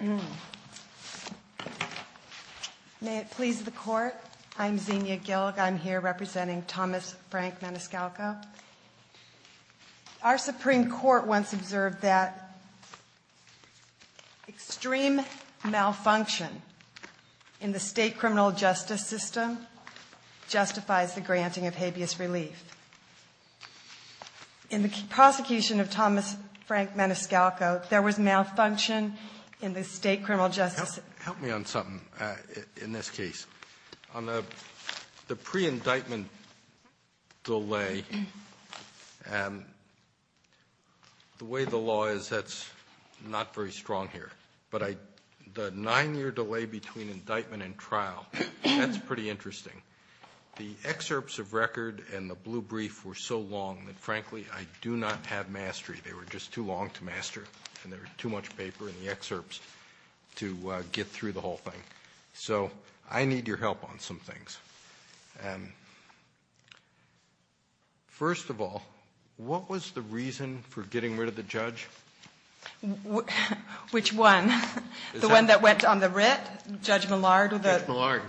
May it please the Court, I'm Xenia Gillick. I'm here representing Thomas Frank Maniscalco. Our Supreme Court once observed that extreme malfunction in the state criminal justice system justifies the granting of habeas relief. In the prosecution of Thomas Frank Maniscalco, there was malfunction in the state criminal justice system. Help me on something in this case. On the pre-indictment delay, the way the law is, that's not very strong here. But the nine-year delay between indictment and trial, that's pretty interesting. The excerpts of record and the blue brief were so long that, frankly, I do not have a master, and there was too much paper in the excerpts to get through the whole thing. So I need your help on some things. First of all, what was the reason for getting rid of the judge? Which one? The one that went on the writ? Judge Millard? Judge Millard.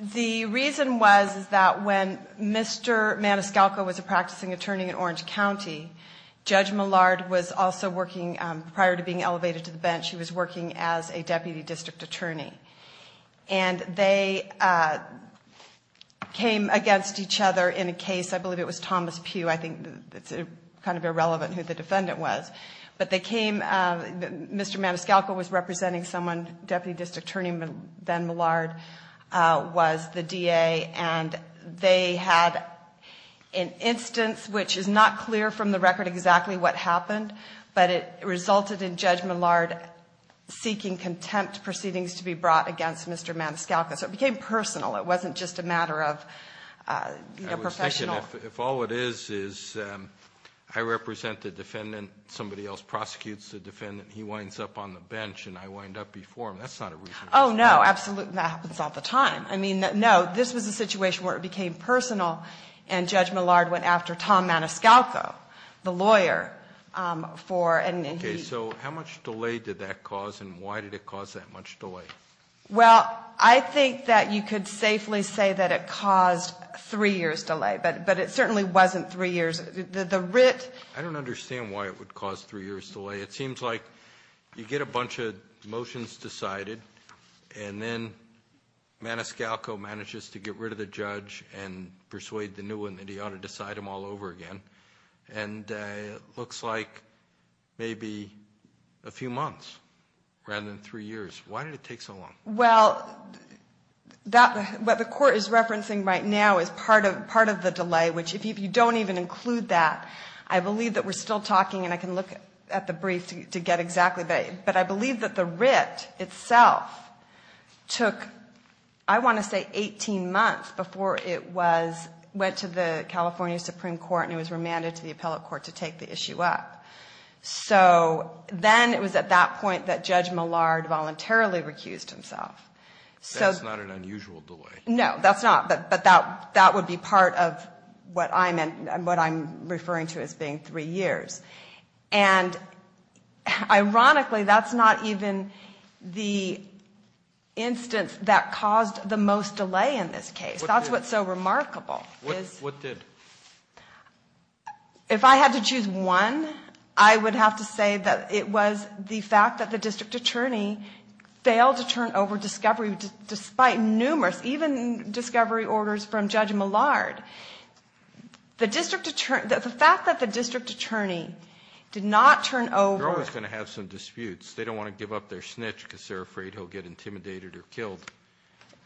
The reason was that when Mr. Maniscalco was a practicing attorney in Orange County, Judge Millard was also working, prior to being elevated to the bench, he was working as a deputy district attorney. And they came against each other in a case, I believe it was Thomas Pugh, I think it's kind of irrelevant who the defendant was. But they came, Mr. Maniscalco was representing someone, deputy district attorney, then Millard was the DA, and they had an instance which is not clear from the record exactly what happened, but it resulted in Judge Millard seeking contempt proceedings to be brought against Mr. Maniscalco. So it became personal, it wasn't just a matter of professional... I was thinking, if all it is, is I represent the defendant, somebody else prosecutes the defendant, he winds up on the bench and I wind up before him, that's not a reasonable... Oh, no, absolutely, that happens all the time. I mean, no, this was a situation where it became personal and Judge Millard went after Tom Maniscalco, the lawyer, for... Okay, so how much delay did that cause and why did it cause that much delay? Well, I think that you could safely say that it caused three years delay, but it certainly wasn't three years. The writ... I don't understand why it would cause three years delay. It seems like you get a bunch of motions decided and then Maniscalco manages to get rid of the judge and persuade the new one that he ought to decide them all over again, and it looks like maybe a few months rather than three years. Why did it take so long? Well, what the court is referencing right now is part of the delay, which if you don't even include that, I believe that we're still talking and I can look at the brief to get exactly... But I believe that the writ itself took, I want to say, 18 months before it went to the California Supreme Court and it was remanded to the appellate court to take the issue up. So then it was at that point that Judge Millard voluntarily recused himself. That's not an unusual delay. No, that's not, but that would be part of what I'm referring to as being three years. And ironically, that's not even the instance that caused the most delay in this case. That's what's so remarkable. What did? If I had to choose one, I would have to say that it was the fact that the district attorney failed to turn over discovery despite numerous, even discovery orders from Judge Millard. The fact that the district attorney did not turn over... They're always going to have some disputes. They don't want to give up their snitch because they're afraid he'll get intimidated or killed.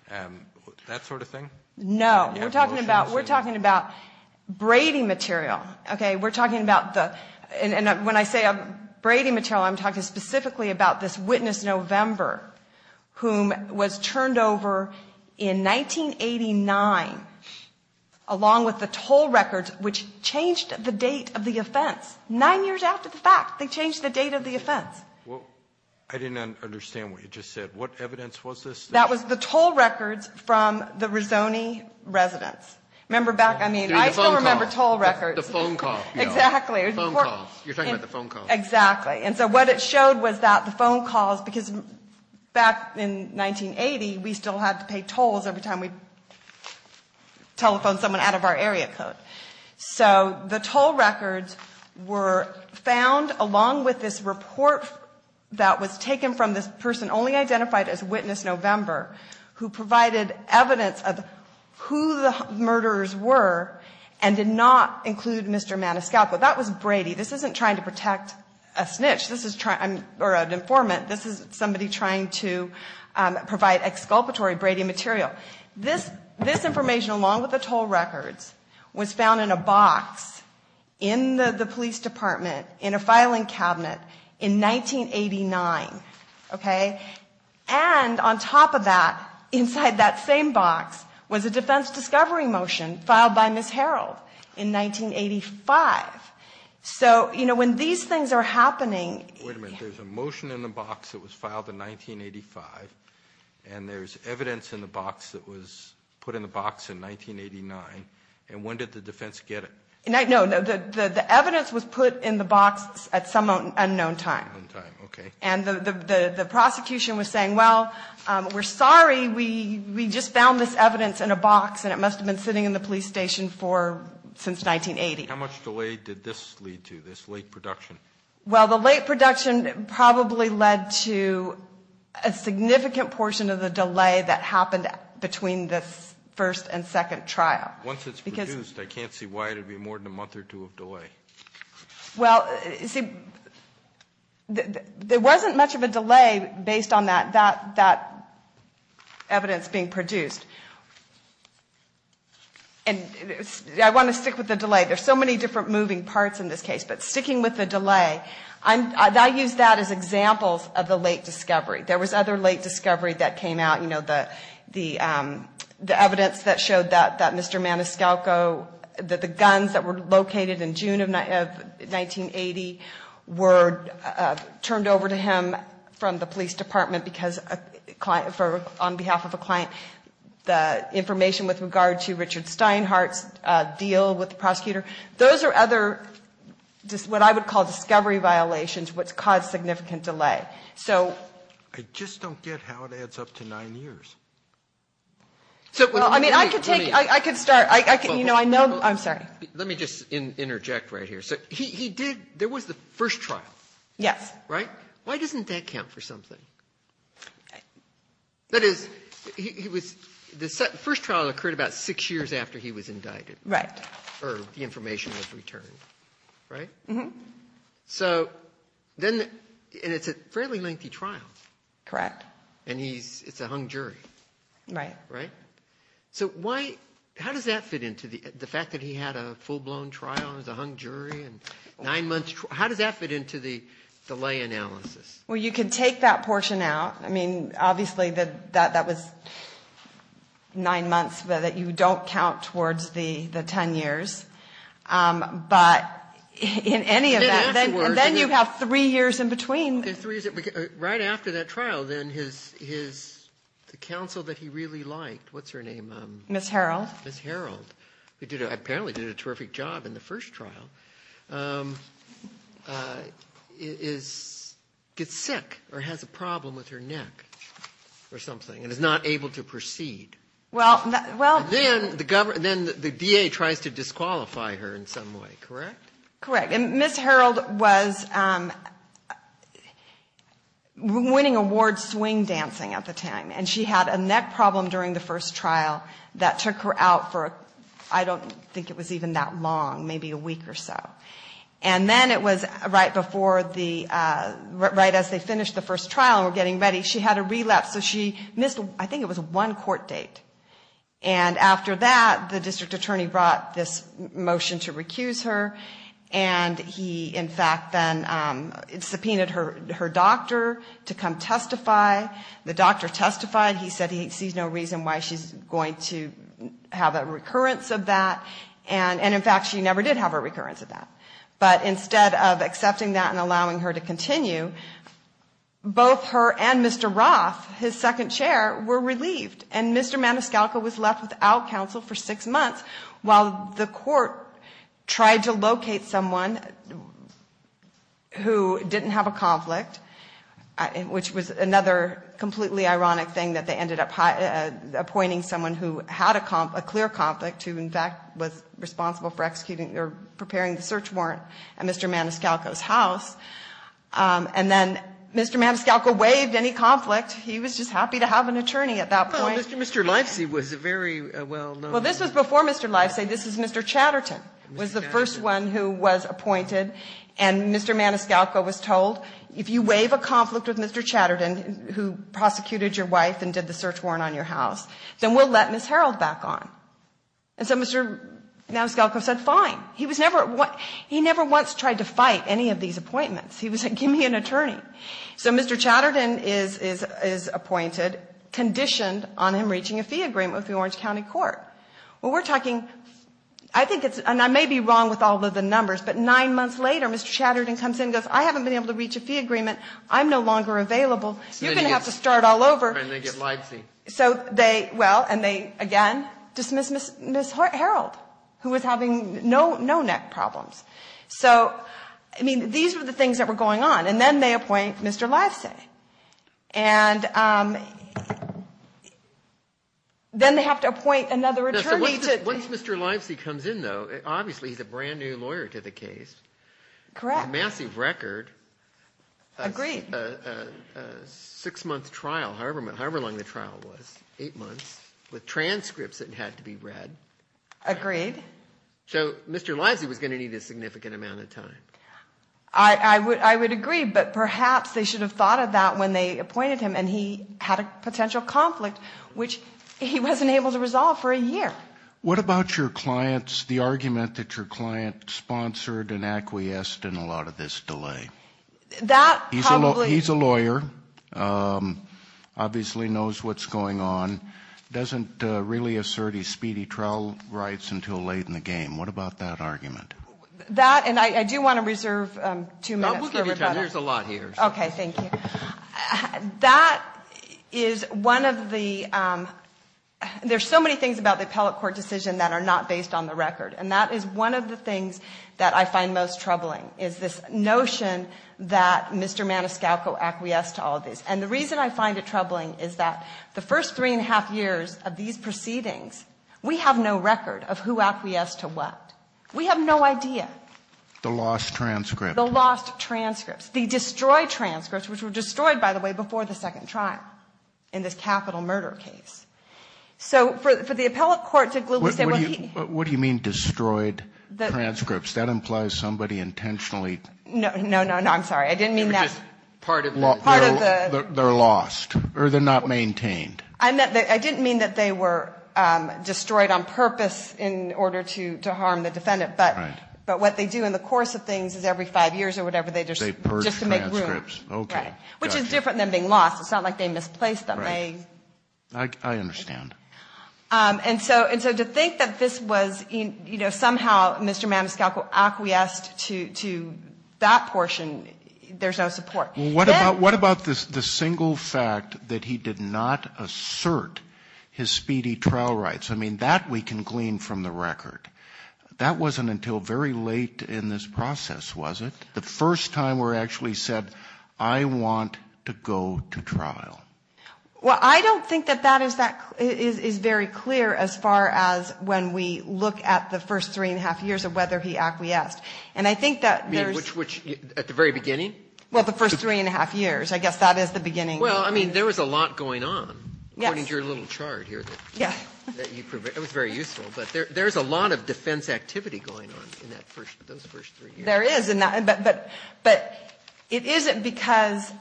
That sort of thing? No, we're talking about braiding material. Okay, we're talking about the... And when I say braiding material, I'm talking specifically about this witness, November, whom was turned over in 1989 along with the toll records, which changed the date of the offense. Nine years after the fact, they changed the date of the offense. I didn't understand what you just said. What evidence was this? That was the toll records from the Rizzoni residence. Remember back, I mean, I still remember toll records. The phone call. Exactly. Phone calls. You're talking about the phone calls. Exactly. And so what it showed was that the phone calls... Because back in 1980, we still had to pay tolls every time we telephoned someone out of our area code. So the toll records were found along with this report that was taken from this person only identified as Witness November, who provided evidence of who the murderers were and did not include Mr. Maniscalco. That was Brady. This isn't trying to protect a snitch or an informant. This is somebody trying to provide exculpatory braiding material. This information, along with the toll records, was found in a box in the police department in a filing cabinet in 1989. And on top of that, inside that same box, was a defense discovery motion filed by Ms. Harreld in 1985. So, you know, when these things are happening... Wait a minute. There's a motion in the box that was filed in 1985, and there's evidence in the box that was put in the box in 1989. And when did the defense get it? No. The evidence was put in the box at some unknown time. Unknown time. Okay. And the prosecution was saying, well, we're sorry. We just found this evidence in a box, and it must have been sitting in the police station since 1980. How much delay did this lead to, this late production? Well, the late production probably led to a significant portion of the delay that happened between this first and second trial. Once it's produced, I can't see why it would be more than a month or two of delay. Well, see, there wasn't much of a delay based on that evidence being produced. And I want to stick with the delay. There's so many different moving parts in this case, but sticking with the delay, I use that as examples of the late discovery. There was other late discovery that came out. You know, the evidence that showed that Mr. Maniscalco, that the guns that were located in June of 1980 were turned over to him from the police department because on behalf of a client, the information with regard to Richard Steinhardt's deal with the prosecutor, those are other what I would call discovery violations which cause significant delay. I just don't get how it adds up to nine years. I mean, I could start. You know, I know. I'm sorry. Let me just interject right here. There was the first trial. Yes. Right? Right. Why doesn't that count for something? That is, the first trial occurred about six years after he was indicted. Right. Or the information was returned. Right? Mm-hmm. So then, and it's a fairly lengthy trial. Correct. And it's a hung jury. Right. Right? So why, how does that fit into the fact that he had a full-blown trial as a hung jury and nine months? How does that fit into the delay analysis? Well, you can take that portion out. I mean, obviously, that was nine months, but you don't count towards the ten years. But in any event, then you have three years in between. Right after that trial, then his, the counsel that he really liked, what's her name? Ms. Harreld. Ms. Harreld, who apparently did a terrific job in the first trial, gets sick or has a problem with her neck or something and is not able to proceed. And then the DA tries to disqualify her in some way. Correct? Correct. And Ms. Harreld was winning awards swing dancing at the time. And she had a neck problem during the first trial that took her out for, I don't think it was even that long, maybe a week or so. And then it was right before the, right as they finished the first trial and were getting ready, she had a relapse. So she missed, I think it was one court date. And after that, the district attorney brought this motion to recuse her. And he, in fact, then subpoenaed her doctor to come testify. The doctor testified. He said he sees no reason why she's going to have a recurrence of that. And in fact, she never did have a recurrence of that. But instead of accepting that and allowing her to continue, both her and Mr. Roth, his second chair, were relieved. And Mr. Maniscalco was left without counsel for six months while the court tried to locate someone who didn't have a conflict, which was another completely ironic thing that they ended up appointing someone who had a clear conflict, who, in fact, was responsible for executing or preparing the search warrant at Mr. Maniscalco's house. And then Mr. Maniscalco waived any conflict. He was just happy to have an attorney at that point. Well, Mr. Lifesey was a very well-known. Well, this was before Mr. Lifesey. This was Mr. Chatterton, was the first one who was appointed. And Mr. Maniscalco was told, if you waive a conflict with Mr. Chatterton, who prosecuted your wife and did the search warrant on your house, then we'll let Ms. Harreld back on. And so Mr. Maniscalco said, fine. He never once tried to fight any of these appointments. He was like, give me an attorney. So Mr. Chatterton is appointed, conditioned on him reaching a fee agreement with the Orange County Court. Well, we're talking, I think it's, and I may be wrong with all of the numbers, but nine months later, Mr. Chatterton comes in and goes, I haven't been able to reach a fee agreement. I'm no longer available. You're going to have to start all over. And they get Lifesey. So they, well, and they, again, dismiss Ms. Harreld, who was having no neck problems. So, I mean, these were the things that were going on. And then they appoint Mr. Lifesey. And then they have to appoint another attorney to. Once Mr. Lifesey comes in, though, obviously he's a brand-new lawyer to the case. Correct. A massive record. Agreed. A six-month trial, however long the trial was, eight months, with transcripts that had to be read. Agreed. So Mr. Lifesey was going to need a significant amount of time. I would agree, but perhaps they should have thought of that when they appointed him, and he had a potential conflict, which he wasn't able to resolve for a year. What about your client's, the argument that your client sponsored and acquiesced in a lot of this delay? That probably. He's a lawyer. Obviously knows what's going on. Doesn't really assert his speedy trial rights until late in the game. What about that argument? That, and I do want to reserve two minutes for rebuttal. We'll give you time. There's a lot here. Okay, thank you. That is one of the, there's so many things about the appellate court decision that are not based on the record, and that is one of the things that I find most troubling, is this notion that Mr. Maniscalco acquiesced to all of this. And the reason I find it troubling is that the first three and a half years of these proceedings, we have no record of who acquiesced to what. We have no idea. The lost transcript. The lost transcripts. The destroyed transcripts, which were destroyed, by the way, before the second trial in this capital murder case. So for the appellate court to glibly say, well, he. What do you mean destroyed transcripts? That implies somebody intentionally. No, no, no, no, I'm sorry. I didn't mean that. Part of the. Part of the. They're lost, or they're not maintained. I didn't mean that they were destroyed on purpose in order to harm the defendant. Right. But what they do in the course of things is every five years or whatever, they just. They purge transcripts. Just to make room. Okay. Right. Which is different than being lost. It's not like they misplaced them. Right. I understand. And so to think that this was somehow Mr. Maniscalco acquiesced to that portion, there's no support. Well, what about the single fact that he did not assert his speedy trial rights? I mean, that we can glean from the record. That wasn't until very late in this process, was it, the first time where he actually said, I want to go to trial? Well, I don't think that that is very clear as far as when we look at the first three and a half years of whether he acquiesced. And I think that there's. Which at the very beginning? Well, the first three and a half years. I guess that is the beginning. Well, I mean, there was a lot going on. Yes. According to your little chart here. Yes. That you provided. It was very useful. But there's a lot of defense activity going on in those first three years. There is. But it isn't because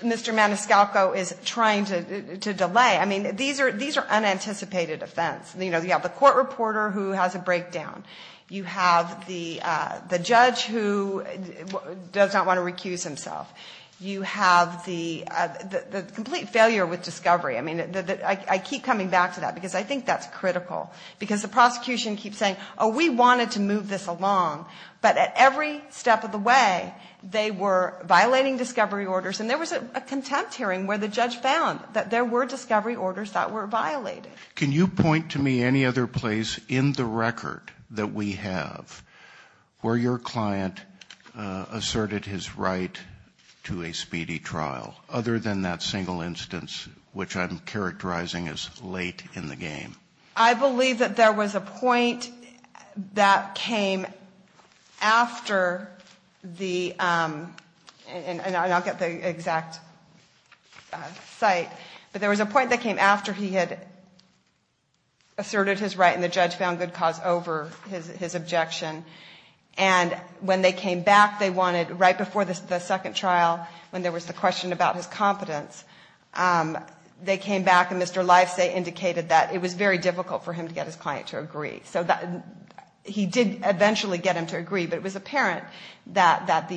Mr. Maniscalco is trying to delay. I mean, these are unanticipated offense. You know, you have the court reporter who has a breakdown. You have the judge who does not want to recuse himself. You have the complete failure with discovery. I mean, I keep coming back to that because I think that's critical. Because the prosecution keeps saying, oh, we wanted to move this along. But at every step of the way, they were violating discovery orders. And there was a contempt hearing where the judge found that there were discovery orders that were violated. Can you point to me any other place in the record that we have where your client asserted his right to a speedy trial, other than that single instance, which I'm characterizing as late in the game? I believe that there was a point that came after the, and I'll get the exact site, but there was a point that came after he had asserted his right and the judge found good cause over his objection. And when they came back, they wanted, right before the second trial, when there was the question about his competence, they came back and Mr. Lifesay indicated that it was very difficult for him to get his client to agree. So he did eventually get him to agree, but it was apparent that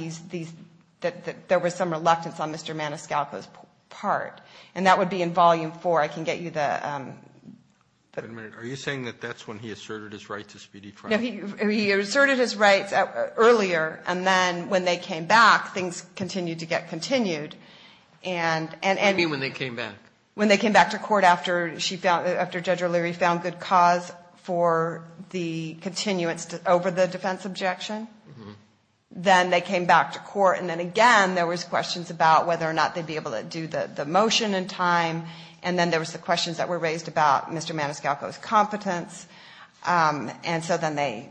there was some reluctance on Mr. Maniscalco's part. And that would be in volume four. I can get you the... Wait a minute. Are you saying that that's when he asserted his right to speedy trial? He asserted his rights earlier, and then when they came back, things continued to get continued. What do you mean when they came back? When they came back to court after Judge O'Leary found good cause for the continuance over the defense objection. Then they came back to court, and then again there was questions about whether or not they'd be able to do the motion in time. And then there was the questions that were raised about Mr. Maniscalco's competence. And so then they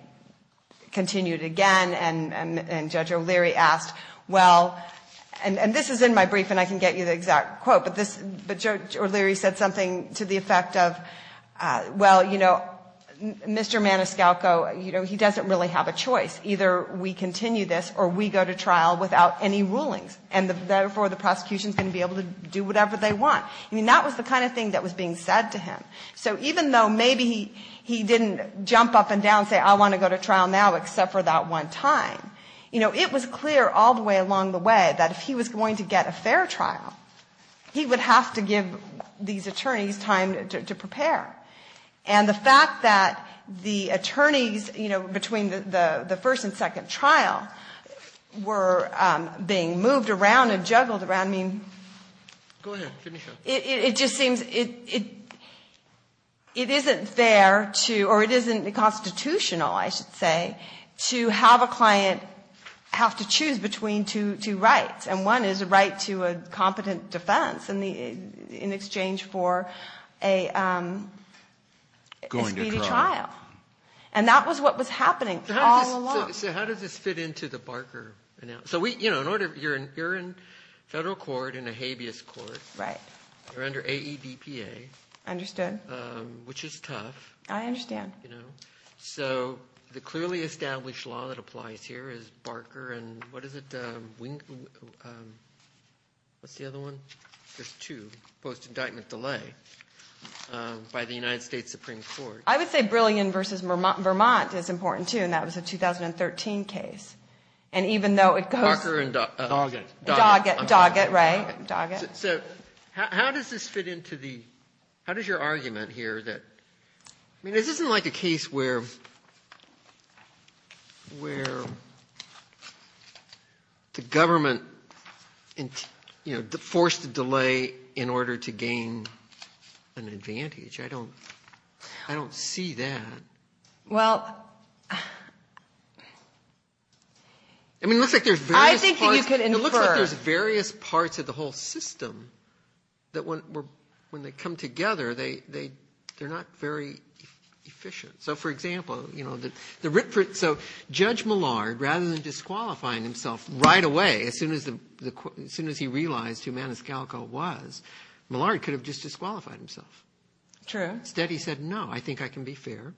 continued again, and Judge O'Leary asked, well... And this is in my brief, and I can get you the exact quote. But Judge O'Leary said something to the effect of, well, you know, Mr. Maniscalco, you know, he doesn't really have a choice. Either we continue this or we go to trial without any rulings. And therefore the prosecution is going to be able to do whatever they want. I mean, that was the kind of thing that was being said to him. So even though maybe he didn't jump up and down and say, I want to go to trial now except for that one time, you know, it was clear all the way along the way that if he was going to get a fair trial, he would have to give these attorneys time to prepare. And the fact that the attorneys, you know, between the first and second trial were being moved around and juggled around, I mean... Go ahead. Finish up. It just seems it isn't fair to, or it isn't constitutional, I should say, to have a client have to choose between two rights. And one is a right to a competent defense in exchange for a speedy trial. And that was what was happening all along. So how does this fit into the Barker? So, you know, you're in federal court in a habeas court. Right. You're under AEDPA. Understood. Which is tough. I understand. You know? So the clearly established law that applies here is Barker and what is it? What's the other one? There's two. Post-indictment delay by the United States Supreme Court. I would say Brilliant v. Vermont is important, too, and that was a 2013 case. And even though it goes... Barker and Doggett. Doggett. Doggett, right. Doggett. So how does this fit into the, how does your argument here that, I mean, this isn't like a case where, where the government, you know, forced a delay in order to gain an advantage. I don't, I don't see that. Well... I mean, it looks like there's various parts. I think you could infer. It looks like there's various parts of the whole system that when they come together, they're not very efficient. So, for example, you know, the Ritford, so Judge Millard, rather than disqualifying himself right away as soon as he realized who Maniscalco was, Millard could have just said, no, I think I can be fair.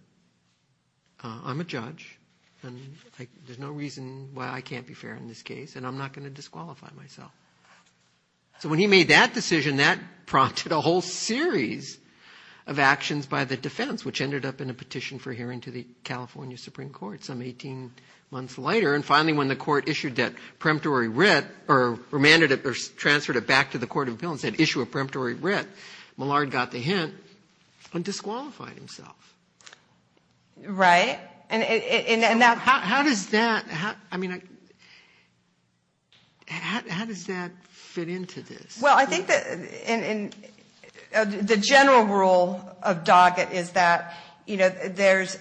I'm a judge, and there's no reason why I can't be fair in this case, and I'm not going to disqualify myself. So when he made that decision, that prompted a whole series of actions by the defense, which ended up in a petition for hearing to the California Supreme Court some 18 months later. And finally, when the court issued that preemptory writ, or remanded it, or transferred it back to the court of appeals and said, issue a preemptory writ, Millard got the hint on disqualifying himself. Right. And that... How does that, I mean, how does that fit into this? Well, I think that the general rule of Doggett is that, you know, there's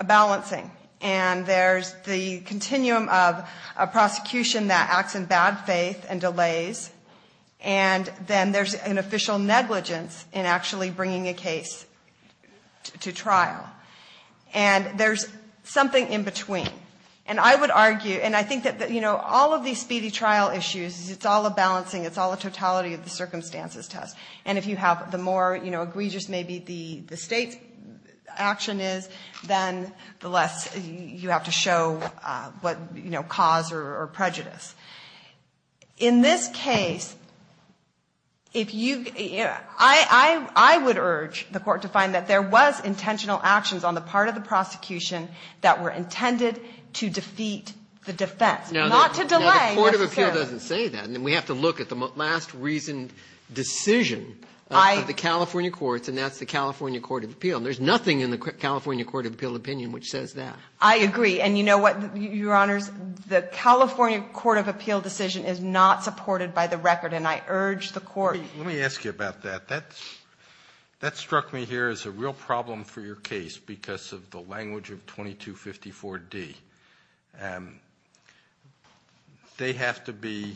a balancing, and there's the continuum of a prosecution that acts in bad faith and delays, and then there's an official negligence in actually bringing a case to trial. And there's something in between. And I would argue, and I think that, you know, all of these speedy trial issues, it's all a balancing, it's all a totality of the circumstances test. And if you have the more, you know, egregious maybe the State's action is, then the less you have to show what, you know, cause or prejudice. In this case, if you've got to, I would urge the court to find that there was intentional actions on the part of the prosecution that were intended to defeat the defense, not to delay necessarily. I would say that. And then we have to look at the last reasoned decision of the California courts, and that's the California Court of Appeal. And there's nothing in the California Court of Appeal opinion which says that. I agree. And you know what, Your Honors? The California Court of Appeal decision is not supported by the record, and I urge the court... Let me ask you about that. That struck me here as a real problem for your case because of the language of 2254D. They have to be...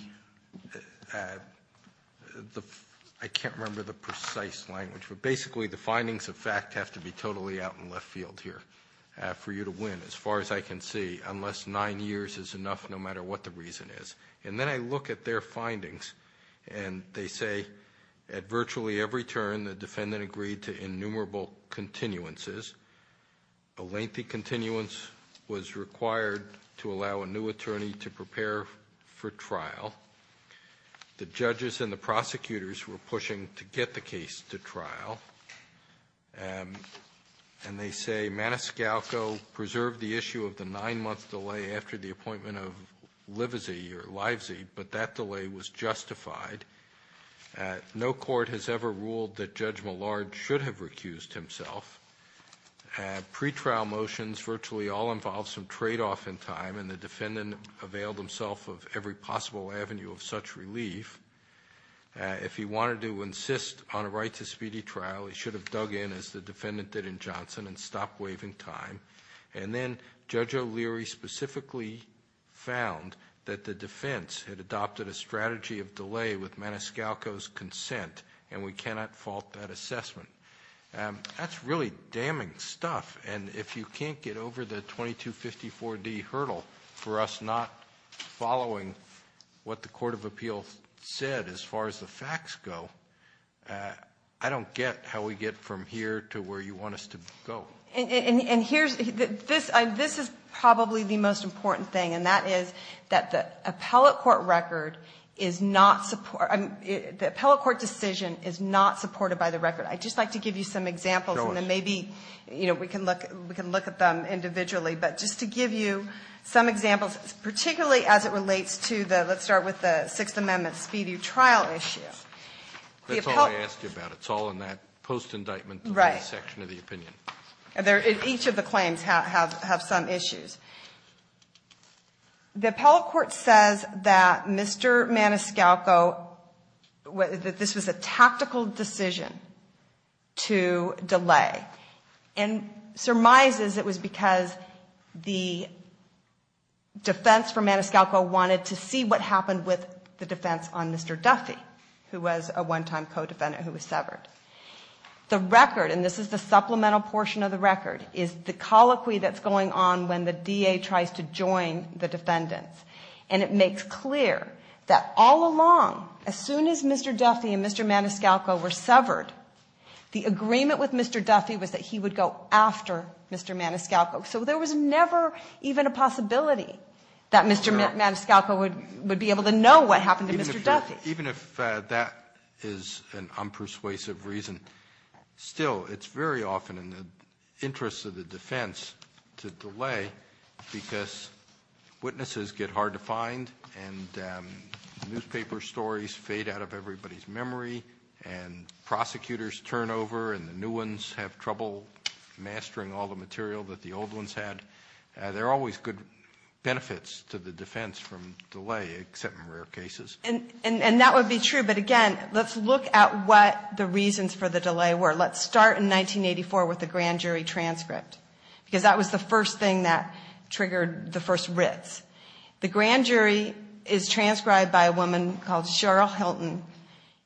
I can't remember the precise language, but basically the findings of fact have to be totally out in left field here for you to win as far as I can see unless nine years is enough no matter what the reason is. And then I look at their findings, and they say at virtually every turn the defendant agreed to innumerable continuances. A lengthy continuance was required to allow a new attorney to prepare for trial. The judges and the prosecutors were pushing to get the case to trial, and they say Maniscalco preserved the issue of the nine-month delay after the appointment of Livesey or Livesey, but that delay was justified. No court has ever ruled that Judge Millard should have recused himself. Pre-trial motions virtually all involve some tradeoff in time, and the defendant availed himself of every possible avenue of such relief. If he wanted to insist on a right to speedy trial, he should have dug in as the defendant did in Johnson and stopped waiving time. And then Judge O'Leary specifically found that the defense had adopted a strategy of delay with Maniscalco's consent, and we cannot fault that assessment. That's really damning stuff. And if you can't get over the 2254D hurdle for us not following what the Court of Appeals said as far as the facts go, I don't get how we get from here to where you want us to go. And this is probably the most important thing, and that is that the appellate court decision is not supported by the record. I'd just like to give you some examples, and then maybe we can look at them individually. But just to give you some examples, particularly as it relates to the, let's start with the Sixth Amendment speedy trial issue. That's all I asked you about. It's all in that post-indictment section of the opinion. Each of the claims have some issues. The appellate court says that Mr. Maniscalco, that this was a tactical decision to delay. And surmises it was because the defense for Maniscalco wanted to see what happened with the defense on Mr. Duffy, who was a one-time co-defendant who was severed. The record, and this is the supplemental portion of the record, is the DA tries to join the defendants. And it makes clear that all along, as soon as Mr. Duffy and Mr. Maniscalco were severed, the agreement with Mr. Duffy was that he would go after Mr. Maniscalco. So there was never even a possibility that Mr. Maniscalco would be able to know what happened to Mr. Duffy. Even if that is an unpersuasive reason, still, it's very often in the interest of the defense to delay, because witnesses get hard to find, and newspaper stories fade out of everybody's memory, and prosecutors turn over, and the new ones have trouble mastering all the material that the old ones had. There are always good benefits to the defense from delay, except in rare cases. And that would be true. But again, let's look at what the reasons for the delay were. Let's start in 1984 with the grand jury transcript, because that was the first thing that triggered the first writs. The grand jury is transcribed by a woman called Cheryl Hilton,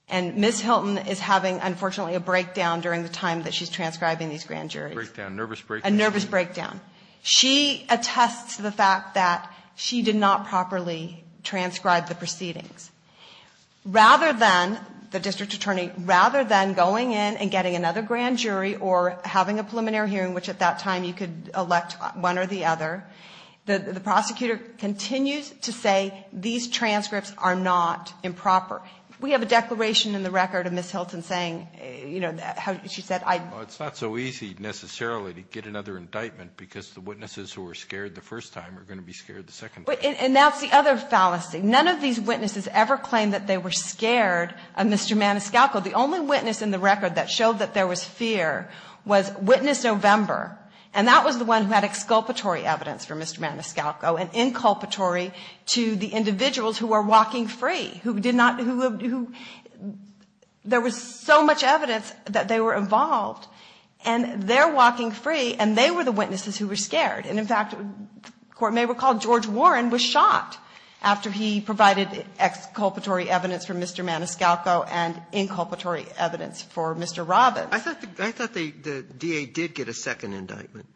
and Ms. Hilton is having, unfortunately, a breakdown during the time that she's transcribing these grand juries. A nervous breakdown. A nervous breakdown. She attests to the fact that she did not properly transcribe the proceedings. Rather than, the district attorney, rather than going in and getting another grand jury, or having a preliminary hearing, which at that time you could elect one or the other, the prosecutor continues to say, these transcripts are not improper. We have a declaration in the record of Ms. Hilton saying, you know, how she said, I... Well, it's not so easy, necessarily, to get another indictment, because the witnesses who were scared the first time are going to be scared the second time. And that's the other fallacy. None of these witnesses ever claimed that they were scared of Mr. Maniscalco. The only witness in the record that showed that there was fear was witness November, and that was the one who had exculpatory evidence for Mr. Maniscalco, and inculpatory to the individuals who were walking free, who did not... There was so much evidence that they were involved, and they're walking free, and they were the witnesses who were scared. And, in fact, the Court may recall George Warren was shot after he provided exculpatory evidence for Mr. Maniscalco and inculpatory evidence for Mr. Robbins. I thought the DA did get a second indictment.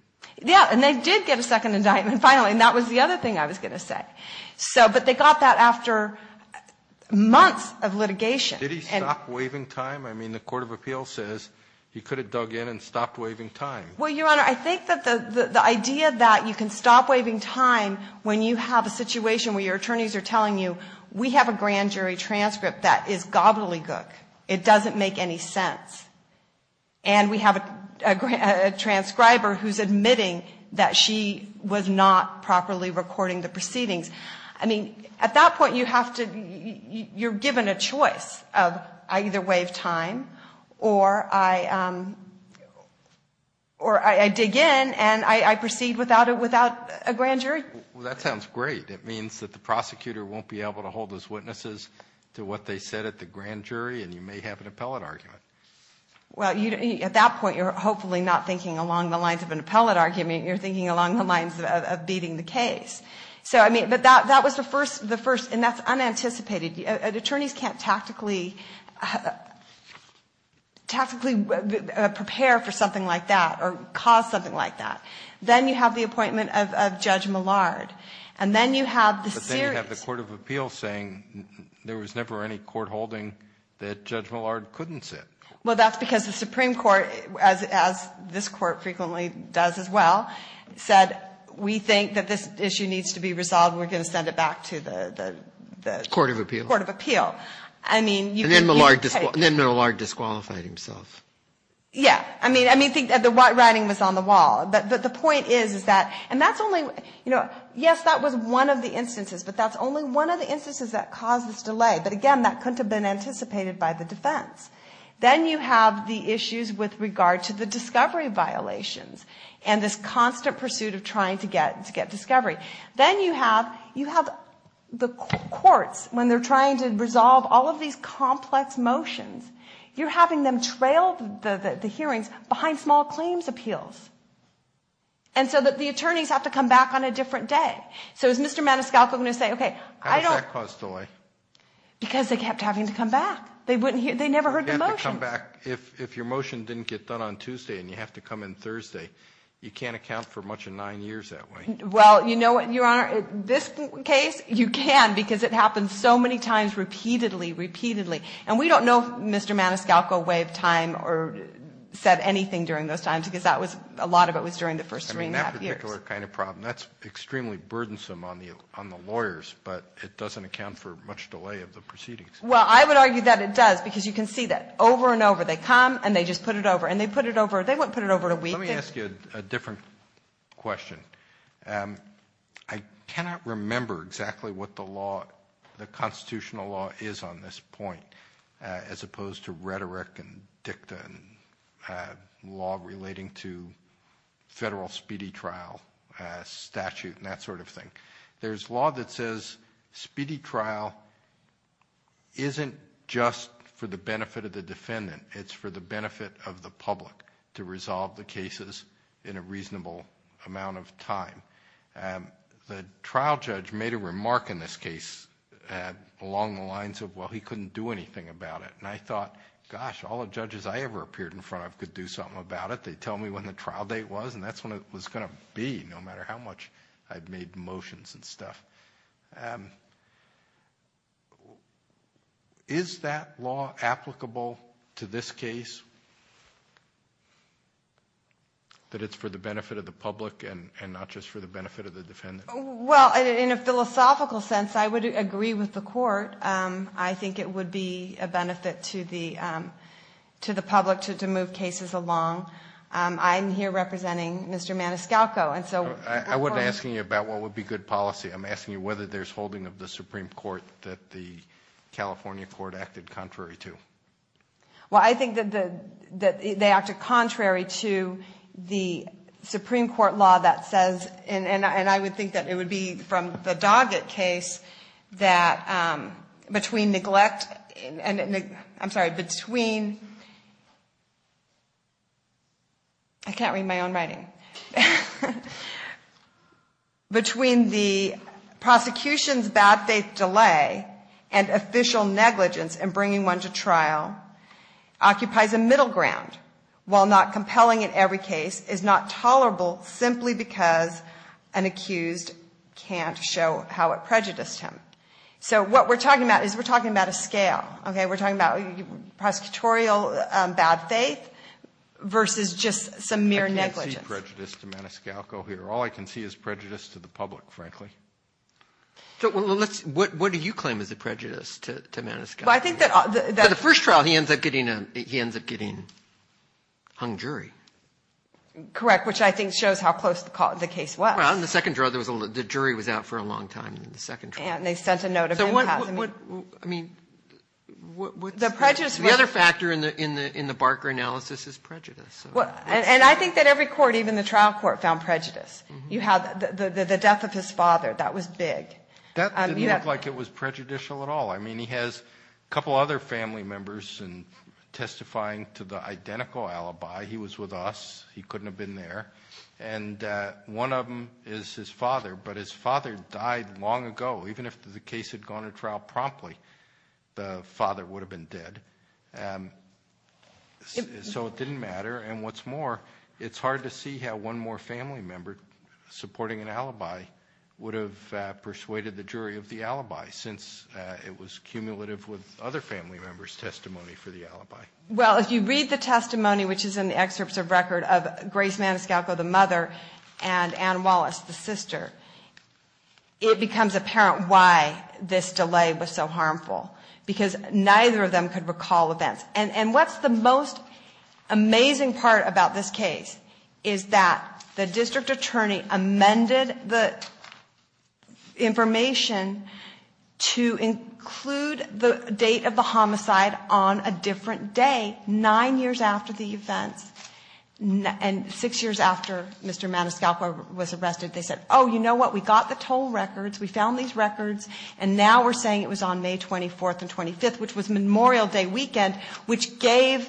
Yeah, and they did get a second indictment, finally, and that was the other thing I was going to say. So, but they got that after months of litigation. Did he stop waving time? I mean, the court of appeals says he could have dug in and stopped waving time. Well, Your Honor, I think that the idea that you can stop waving time when you have a situation where your attorneys are telling you, we have a grand jury transcript that is gobbledygook, it doesn't make any sense, and we have a transcriber who's admitting that she was not properly recording the proceedings. I mean, at that point, you have to, you're given a choice of I either wave time or I dig in and I proceed without a grand jury. Well, that sounds great. It means that the prosecutor won't be able to hold his witnesses to what they said at the grand jury, and you may have an appellate argument. Well, at that point, you're hopefully not thinking along the lines of an appellate argument, you're thinking along the lines of beating the case. So, I mean, but that was the first, and that's unanticipated. Attorneys can't tactically prepare for something like that or cause something like that. Then you have the appointment of Judge Millard, and then you have the series. But then you have the court of appeals saying there was never any court holding that Judge Millard couldn't sit. Well, that's because the Supreme Court, as this Court frequently does as well, said we think that this issue needs to be resolved. We're going to send it back to the court of appeal. And then Millard disqualified himself. Yeah. I mean, the writing was on the wall. But the point is that, and that's only, you know, yes, that was one of the instances, but that's only one of the instances that caused this delay. But, again, that couldn't have been anticipated by the defense. Then you have the issues with regard to the discovery violations and this constant pursuit of trying to get discovery. Then you have the courts, when they're trying to resolve all of these complex motions, you're having them trail the hearings behind small claims appeals. And so the attorneys have to come back on a different day. So is Mr. Maniscalco going to say, okay, I don't – How does that cause delay? Because they kept having to come back. They never heard the motions. If your motion didn't get done on Tuesday and you have to come in Thursday, you can't account for much of nine years that way. Well, you know what, Your Honor, this case you can because it happened so many times repeatedly, repeatedly. And we don't know if Mr. Maniscalco waived time or said anything during those times because a lot of it was during the first three and a half years. I mean, that particular kind of problem, that's extremely burdensome on the lawyers, but it doesn't account for much delay of the proceedings. Well, I would argue that it does because you can see that over and over. They come and they just put it over. And they put it over – they wouldn't put it over in a week. Let me ask you a different question. I cannot remember exactly what the law, the constitutional law is on this point as opposed to rhetoric and dicta and law relating to federal speedy trial statute and that sort of thing. There's law that says speedy trial isn't just for the benefit of the defendant. It's for the benefit of the public to resolve the cases in a reasonable amount of time. The trial judge made a remark in this case along the lines of, well, he couldn't do anything about it. And I thought, gosh, all the judges I ever appeared in front of could do something about it. They tell me when the trial date was and that's when it was going to be no matter how much I'd made motions and stuff. Is that law applicable to this case? That it's for the benefit of the public and not just for the benefit of the defendant? Well, in a philosophical sense, I would agree with the Court. I think it would be a benefit to the public to move cases along. I'm here representing Mr. Maniscalco. I wasn't asking you about what would be good policy. I'm asking you whether there's holding of the Supreme Court that the California Court acted contrary to. Well, I think that they acted contrary to the Supreme Court law that says, and I would think that it would be from the Doggett case, that between neglect and, I'm sorry, between, I can't read my own writing, between the prosecution's bad faith delay and official negligence in bringing one to trial occupies a middle ground, while not compelling in every case, is not tolerable simply because an accused can't show how it prejudiced him. So what we're talking about is we're talking about a scale. We're talking about prosecutorial bad faith versus just some mere negligence. I can't see prejudice to Maniscalco here. All I can see is prejudice to the public, frankly. But the first trial he ends up getting hung jury. Correct, which I think shows how close the case was. Well, in the second trial the jury was out for a long time. And they sent a note of impasse. The other factor in the Barker analysis is prejudice. And I think that every court, even the trial court, found prejudice. The death of his father, that was big. That didn't look like it was prejudicial at all. I mean, he has a couple other family members testifying to the identical alibi. He was with us. He couldn't have been there. And one of them is his father, but his father died long ago. Even if the case had gone to trial promptly, the father would have been dead. So it didn't matter, and what's more, it's hard to see how one more family member supporting an alibi would have persuaded the jury of the alibi, since it was cumulative with other family members' testimony for the alibi. Well, if you read the testimony, which is in the excerpts of record of Grace Maniscalco, the mother, and Ann Wallace, the sister, it becomes apparent why this delay was so harmful. Because neither of them could recall events. And what's the most amazing part about this case is that the district attorney amended the information to include the date of the homicide on a different day, nine years after the events, and six years after Mr. Maniscalco was arrested. They said, oh, you know what, we got the toll records, we found these records, and now we're saying it was on May 24th and 25th, which was Memorial Day weekend, which gave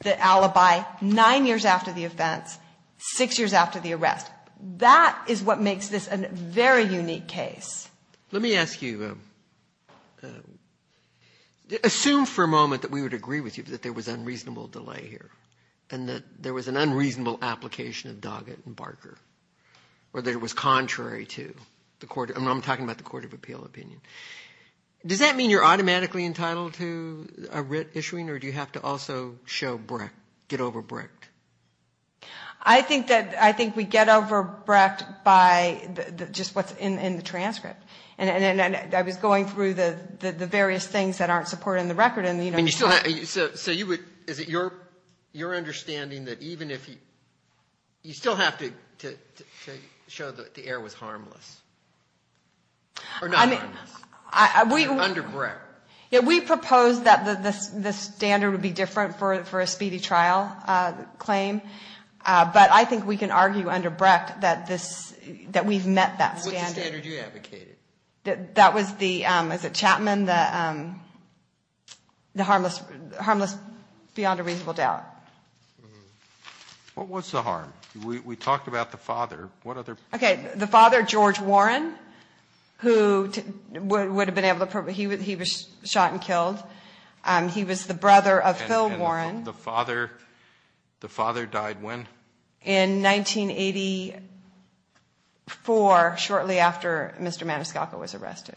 the alibi nine years after the events, six years after the arrest. That is what makes this a very unique case. Let me ask you, assume for a moment that we would agree with you that there was unreasonable delay here, and that there was an unreasonable application of Doggett and Barker, or that it was contrary to the court, and I'm talking about the Court of Appeal opinion. Does that mean you're automatically entitled to a writ issuing, or do you have to also show brecht, get over brecht? I think we get over brecht by just what's in the transcript. And I was going through the various things that aren't supported in the record. So you would, is it your understanding that even if you, you still have to show that the error was harmless? Or not harmless, under brecht? Yeah, we proposed that the standard would be different for a speedy trial claim, but I think we can argue under brecht that this, that we've met that standard. What's the standard you advocated? That was the, is it Chapman, the harmless beyond a reasonable doubt. What was the harm? We talked about the father. The father, George Warren, who would have been able to, he was shot and killed. He was the brother of Phil Warren. The father died when? In 1984, shortly after Mr. Maniscalco was arrested.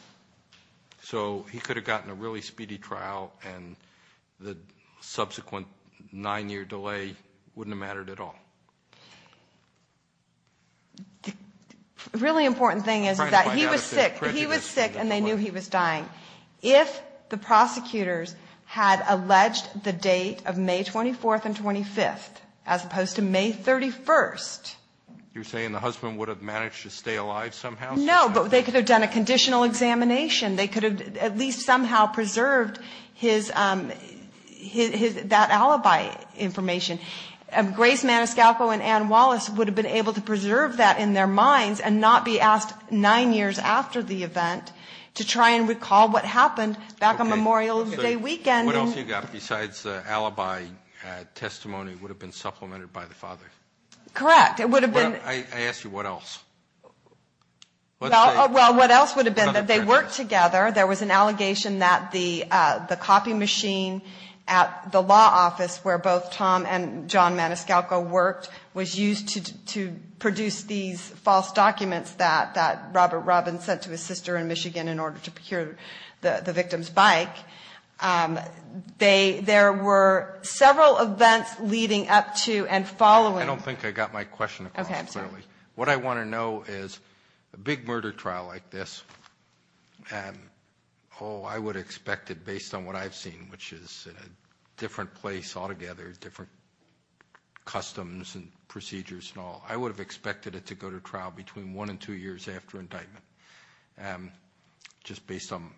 So he could have gotten a really speedy trial, and the subsequent nine year delay wouldn't have mattered at all. The really important thing is that he was sick. He was sick and they knew he was dying. If the prosecutors had alleged the date of May 24th and 25th, as opposed to May 31st. You're saying the husband would have managed to stay alive somehow? No, but they could have done a conditional examination. They could have at least somehow preserved his, that alibi information. Grace Maniscalco and Ann Wallace would have been able to preserve that in their minds and not be asked nine years after the event to try and recall what happened back on Memorial Day weekend. What else you got besides alibi testimony would have been supplemented by the father? Correct. I asked you what else? Well, what else would have been that they worked together. There was an allegation that the copy machine at the law office where both Tom and John Maniscalco worked was used to produce these false documents that Robert Robbins sent to his sister in Michigan in order to procure the victim's bike. There were several events leading up to and following. I don't think I got my question. What I want to know is a big murder trial like this. Oh, I would expect it based on what I've seen, which is in a different place altogether, different customs and procedures and all. I would have expected it to go to trial between one and two years after indictment, just based on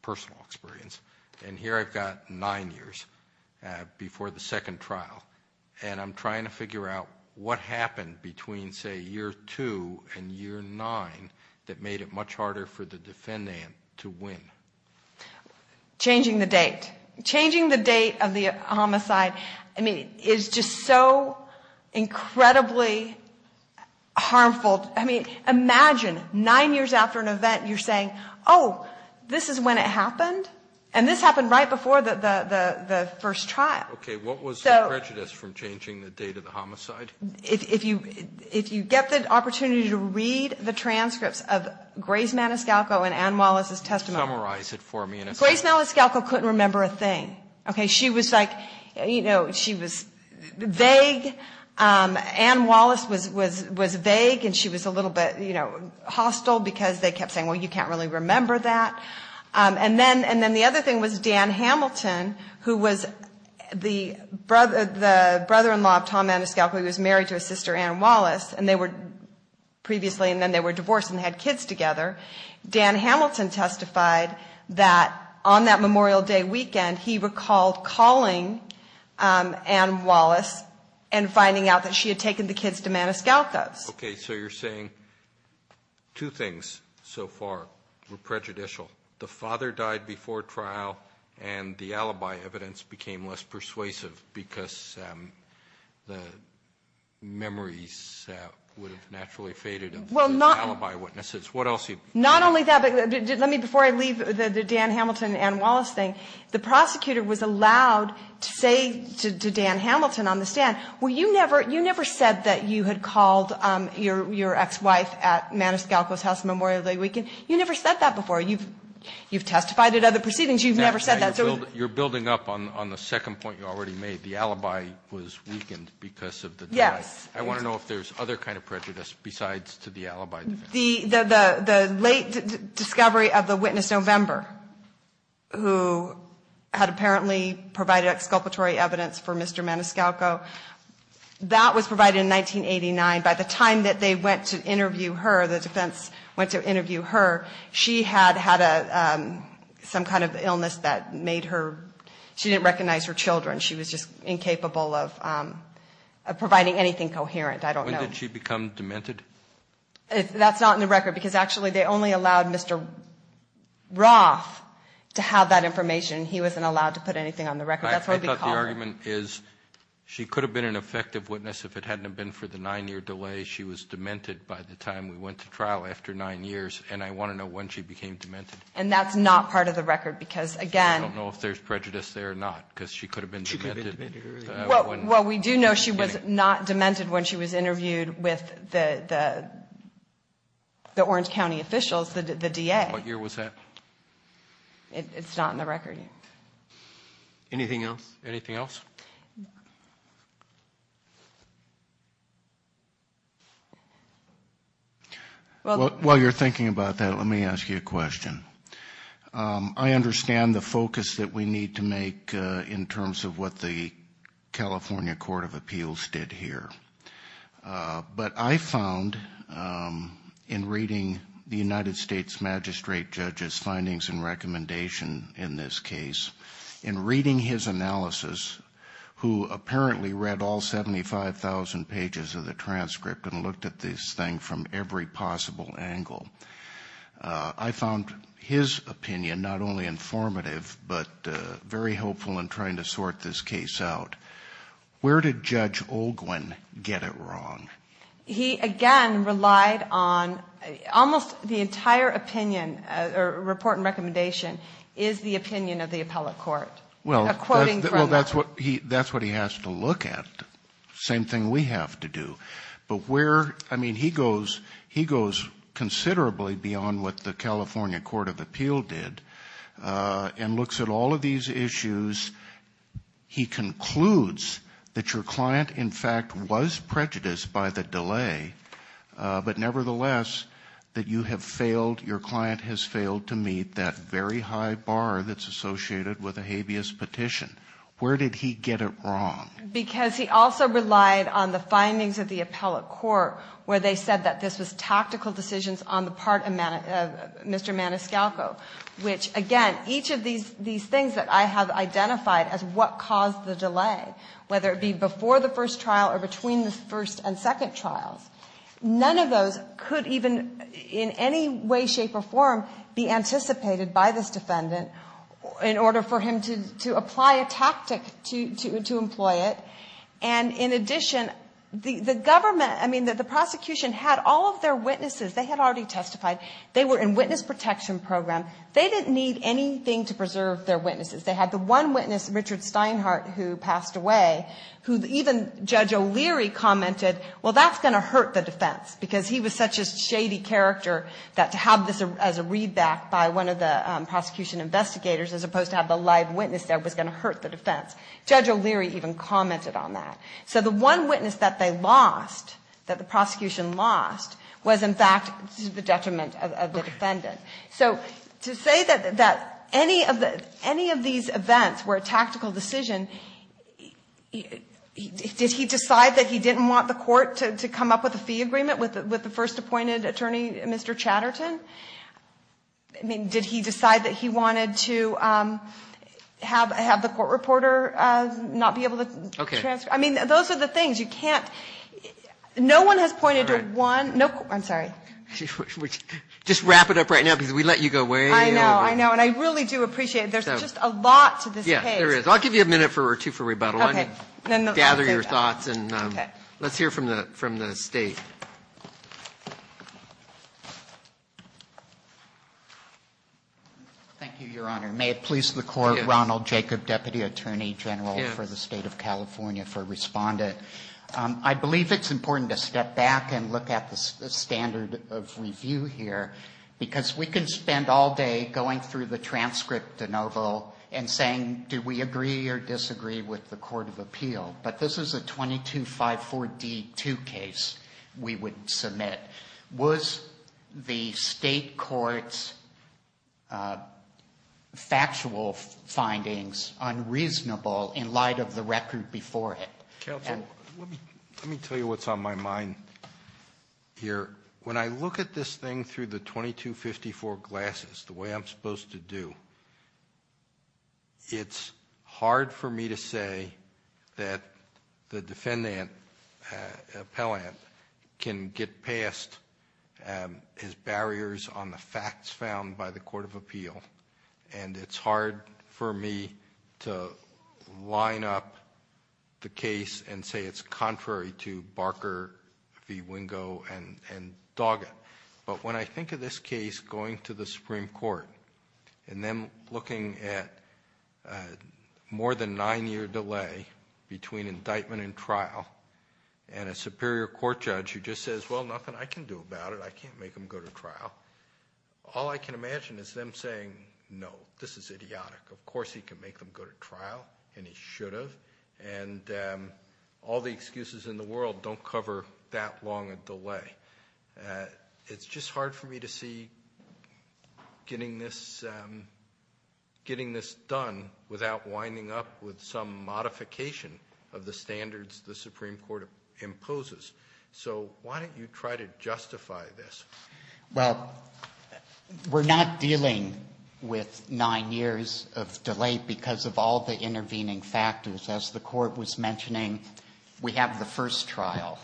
personal experience. And here I've got nine years before the second trial. And I'm trying to figure out what happened between, say, year two and year nine that made it much harder for the defendant to win. Changing the date. Changing the date of the homicide, I mean, is just so incredibly harmful. I mean, imagine nine years after an event, you're saying, oh, this is when it happened. And this happened right before the first trial. Okay. If you get the opportunity to read the transcripts of Grace Maniscalco and Ann Wallace's testimony. Summarize it for me in a sentence. Grace Maniscalco couldn't remember a thing. She was vague. Ann Wallace was vague, and she was a little bit hostile because they kept saying, well, you can't really remember that. And then the other thing was Dan Hamilton, who was the brother-in-law of Tom Maniscalco. He was married to his sister, Ann Wallace, and they were previously, and then they were divorced and had kids together. Dan Hamilton testified that on that Memorial Day weekend, he recalled calling Ann Wallace and finding out that she had taken the kids to Maniscalco's. Okay, so you're saying two things so far were prejudicial. The father died before trial, and the alibi evidence became less persuasive because the memories would have naturally faded of the alibi witnesses. Not only that, but let me, before I leave the Dan Hamilton, Ann Wallace thing, the prosecutor was allowed to say to Dan Hamilton on the stand, well, you never said that you had called your ex-wife at Maniscalco's house Memorial Day weekend. You never said that before. You've testified at other proceedings. You've never said that. You're building up on the second point you already made. The alibi was weakened because of the death. I want to know if there's other kind of prejudice besides to the alibi. The late discovery of the witness November, who had apparently provided exculpatory evidence for Mr. Maniscalco, that was provided in 1989. By the time that they went to interview her, the defense went to interview her, she had had some kind of illness that made her, she didn't recognize her children. She was just incapable of providing anything coherent, I don't know. When did she become demented? That's not in the record, because actually they only allowed Mr. Roth to have that information. He wasn't allowed to put anything on the record. I thought the argument is she could have been an effective witness if it hadn't been for the nine year delay. She was demented by the time we went to trial after nine years, and I want to know when she became demented. And that's not part of the record, because again. I don't know if there's prejudice there or not, because she could have been demented. Well, we do know she was not demented when she was interviewed with the Orange County officials, the DA. What year was that? It's not in the record. Anything else? While you're thinking about that, let me ask you a question. I understand the focus that we need to make in terms of what the California Court of Appeals did here. But I found in reading the United States magistrate judge's findings and recommendation in this case, in reading his analysis, who apparently read all 75,000 pages of the transcript and looked at this thing from every possible angle, I found his opinion not only informative, but very helpful in trying to sort this case out. Where did Judge Olguin get it wrong? He, again, relied on almost the entire opinion, or report and recommendation, is the opinion of the appellate court. Well, that's what he has to look at. Same thing we have to do. But where, I mean, he goes considerably beyond what the California Court of Appeals did and looks at all of these issues. And he concludes that your client, in fact, was prejudiced by the delay, but nevertheless, that you have failed, your client has failed to meet that very high bar that's associated with a habeas petition. Where did he get it wrong? Because he also relied on the findings of the appellate court, where they said that this was tactical decisions on the part of Mr. Maniscalco. Which, again, each of these things that I have identified as what caused the delay, whether it be before the first trial or between the first and second trials, none of those could even in any way, shape, or form be anticipated by this defendant in order for him to apply a tactic to employ it. And in addition, the government, I mean, the prosecution had all of their witnesses, they had already testified, they were in witness protection program, they didn't need anything to preserve their witnesses. They had the one witness, Richard Steinhardt, who passed away, who even Judge O'Leary commented, well, that's going to hurt the defense, because he was such a shady character that to have this as a readback by one of the prosecution investigators, as opposed to have the live witness there, was going to hurt the defense. Judge O'Leary even commented on that. So the one witness that they lost, that the prosecution lost, was, in fact, to the detriment of the defendant. So to say that any of these events were a tactical decision, did he decide that he didn't want the court to come up with a fee agreement with the first appointed attorney, Mr. Chatterton? I mean, did he decide that he wanted to have the court reporter not be able to transfer? I mean, those are the things, you can't, no one has pointed to one, no, I'm sorry. Just wrap it up right now, because we let you go way over. I know, I know, and I really do appreciate it. There's just a lot to this case. Yeah, there is. I'll give you a minute or two for rebuttal. Gather your thoughts, and let's hear from the State. Thank you, Your Honor. May it please the Court, Ronald Jacob, Deputy Attorney General for the State of California for Respondent. I believe it's important to step back and look at the standard of review here, because we can spend all day going through the transcript, DeNovo, and saying, do we agree or disagree with the court of appeal? But this is a 2254D2 case we would submit. Was the State court's factual findings unreasonable in light of the record before it? Counsel, let me tell you what's on my mind here. When I look at this thing through the 2254 glasses, the way I'm supposed to do, it's hard for me to say that the defendant, appellant, can get past his barriers on the facts found by the court of appeal, and it's hard for me to line up the case and say it's contrary to Barker v. Wingo and Doggett. But when I think of this case going to the Supreme Court, a more than nine-year delay between indictment and trial, and a superior court judge who just says, well, nothing I can do about it, I can't make them go to trial, all I can imagine is them saying, no, this is idiotic. Of course he can make them go to trial, and he should have, and all the excuses in the world don't cover that long a delay. It's just hard for me to see getting this done without winding up with some modification of the standards the Supreme Court imposes. So why don't you try to justify this? Well, we're not dealing with nine years of delay because of all the intervening factors. As the court was mentioning, we have the first trial,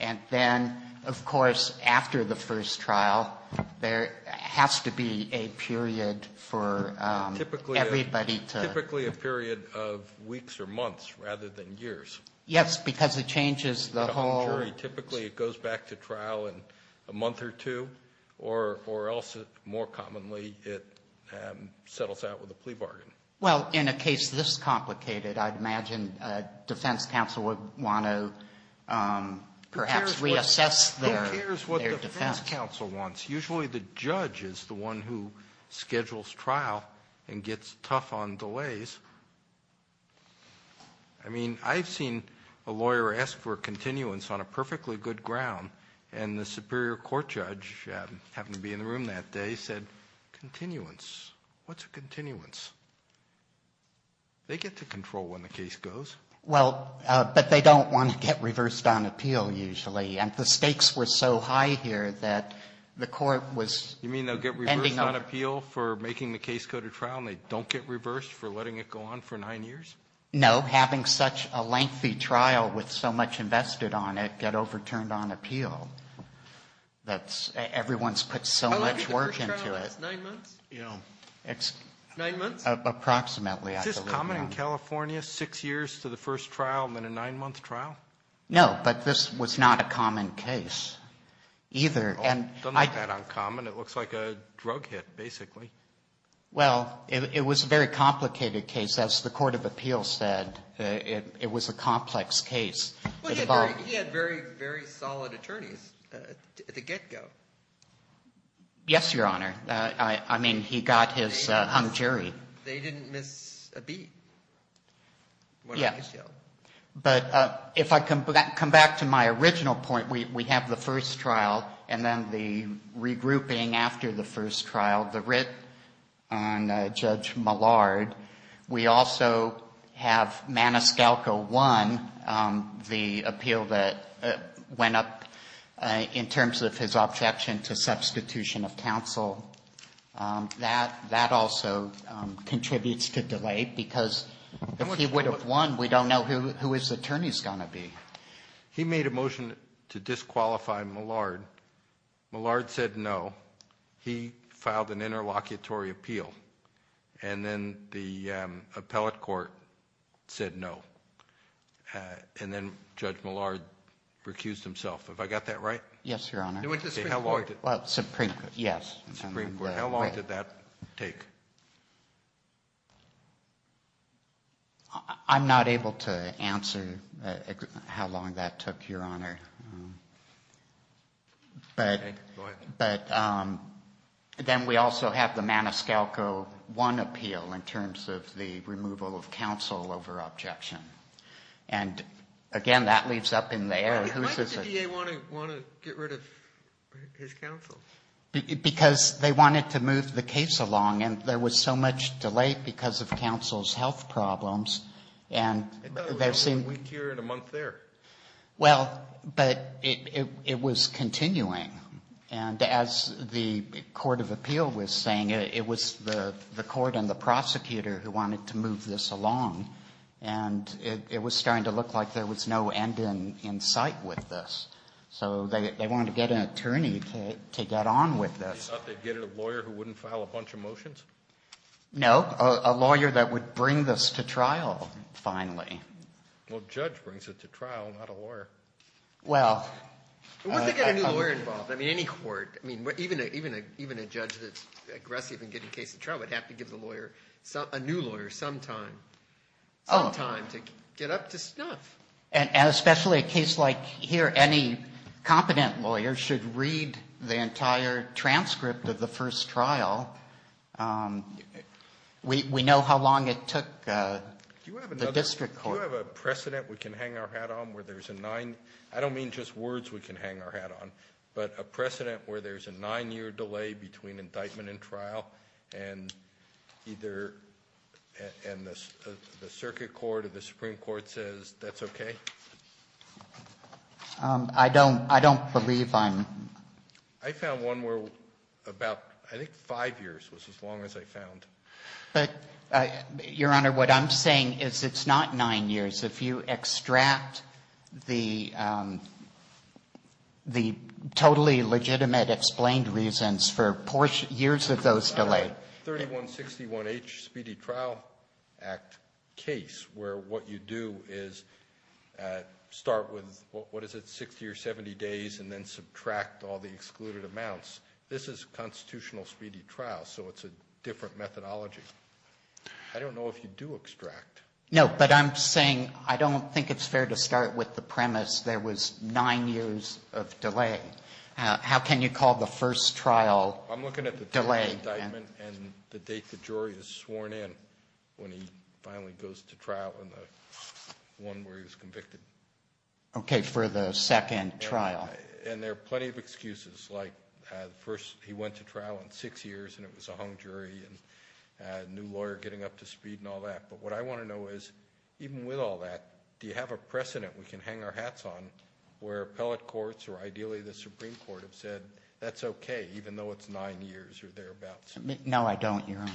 and then, of course, after the first trial, there has to be a period for everybody to... Typically a period of weeks or months rather than years. Yes, because it changes the whole... Typically it goes back to trial in a month or two, or else, more commonly, it settles out with a plea bargain. Well, in a case this complicated, I'd imagine defense counsel would want to perhaps reassess their defense. Who cares what the defense counsel wants? Usually the judge is the one who schedules trial and gets tough on delays. I mean, I've seen a lawyer ask for a continuance on a perfectly good ground, and the superior court judge happened to be in the room that day said, continuance? What's a continuance? They get to control when the case goes. Well, but they don't want to get reversed on appeal usually, and the stakes were so high here that the court was... I don't think the first trial lasts nine months. Nine months? Is this common in California, six years to the first trial and then a nine-month trial? No, but this was not a common case either. Well, not that uncommon. It looks like a drug hit, basically. Well, it was a very complicated case. As the court of appeals said, it was a complex case. He had very, very solid attorneys at the get-go. Yes, Your Honor. I mean, he got his hung jury. They didn't miss a beat. But if I come back to my original point, we have the first trial and then the regrouping after the first trial, the writ on Judge Millard. We also have Maniscalco 1, the appeal that went up in terms of his objection to substitution of counsel. That also contributes to delay, because if he would have won, we don't know who his attorney is going to be. He made a motion to disqualify Millard. Millard said no. He filed an interlocutory appeal, and then the appellate court said no. And then Judge Millard recused himself. Have I got that right? Yes, Your Honor. How long did that take? I'm not able to answer how long that took, Your Honor. Okay. Go ahead. But then we also have the Maniscalco 1 appeal in terms of the removal of counsel over objection. And again, that leaves up in the air. Why did the DA want to get rid of his counsel? Because they wanted to move the case along, and there was so much delay because of counsel's health problems. About a week here and a month there. Well, but it was continuing. And as the court of appeal was saying, it was the court and the prosecutor who wanted to move this along. And it was starting to look like there was no end in sight with this. So they wanted to get an attorney to get on with this. You thought they'd get a lawyer who wouldn't file a bunch of motions? No. A lawyer that would bring this to trial, finally. Well, a judge brings it to trial, not a lawyer. Well, wouldn't they get a new lawyer involved? I mean, any court. I mean, even a judge that's aggressive in getting a case to trial would have to give the lawyer, a new lawyer, sometime. Sometime to get up to snuff. And especially a case like here, any competent lawyer should read the entire transcript of the first trial. We know how long it took the district court. Do you have a precedent we can hang our hat on where there's a nine? I don't mean just words we can hang our hat on, but a precedent where there's a nine-year delay between indictment and trial, and either the circuit court or the Supreme Court says that's okay? I don't believe I'm. I found one where about, I think, five years was as long as I found. But, Your Honor, what I'm saying is it's not nine years. If you extract the totally legitimate explained reasons for years of those delays. 3161H Speedy Trial Act case, where what you do is start with, what is it, 60 or 70 days, and then subtract all the excluded amounts. This is a constitutional speedy trial, so it's a different methodology. I don't know if you do extract. No, but I'm saying I don't think it's fair to start with the premise there was nine years of delay. How can you call the first trial delayed? The indictment and the date the jury is sworn in when he finally goes to trial and the one where he was convicted. Okay, for the second trial. And there are plenty of excuses, like he went to trial in six years and it was a hung jury, and a new lawyer getting up to speed and all that. But what I want to know is, even with all that, do you have a precedent we can hang our hats on where appellate courts or ideally the Supreme Court have said that's okay, even though it's nine years or thereabouts? No, I don't, Your Honor.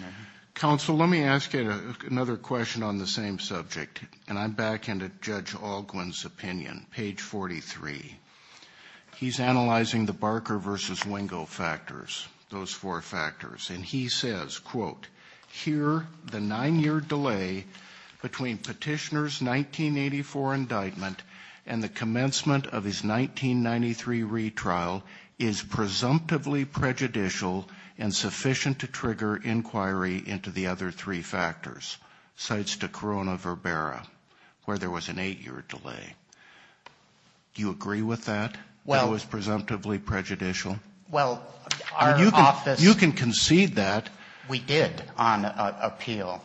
Counsel, let me ask you another question on the same subject. And I'm back into Judge Alguin's opinion, page 43. He's analyzing the Barker v. Wingo factors, those four factors. And he says, quote, here the nine-year delay between Petitioner's 1984 indictment and the commencement of his 1993 retrial is presumptively prejudicial and sufficient to trigger inquiry into the other three factors, sites to Corona Verbera, where there was an eight-year delay. Do you agree with that, that it was presumptively prejudicial? You can concede that. We did on appeal,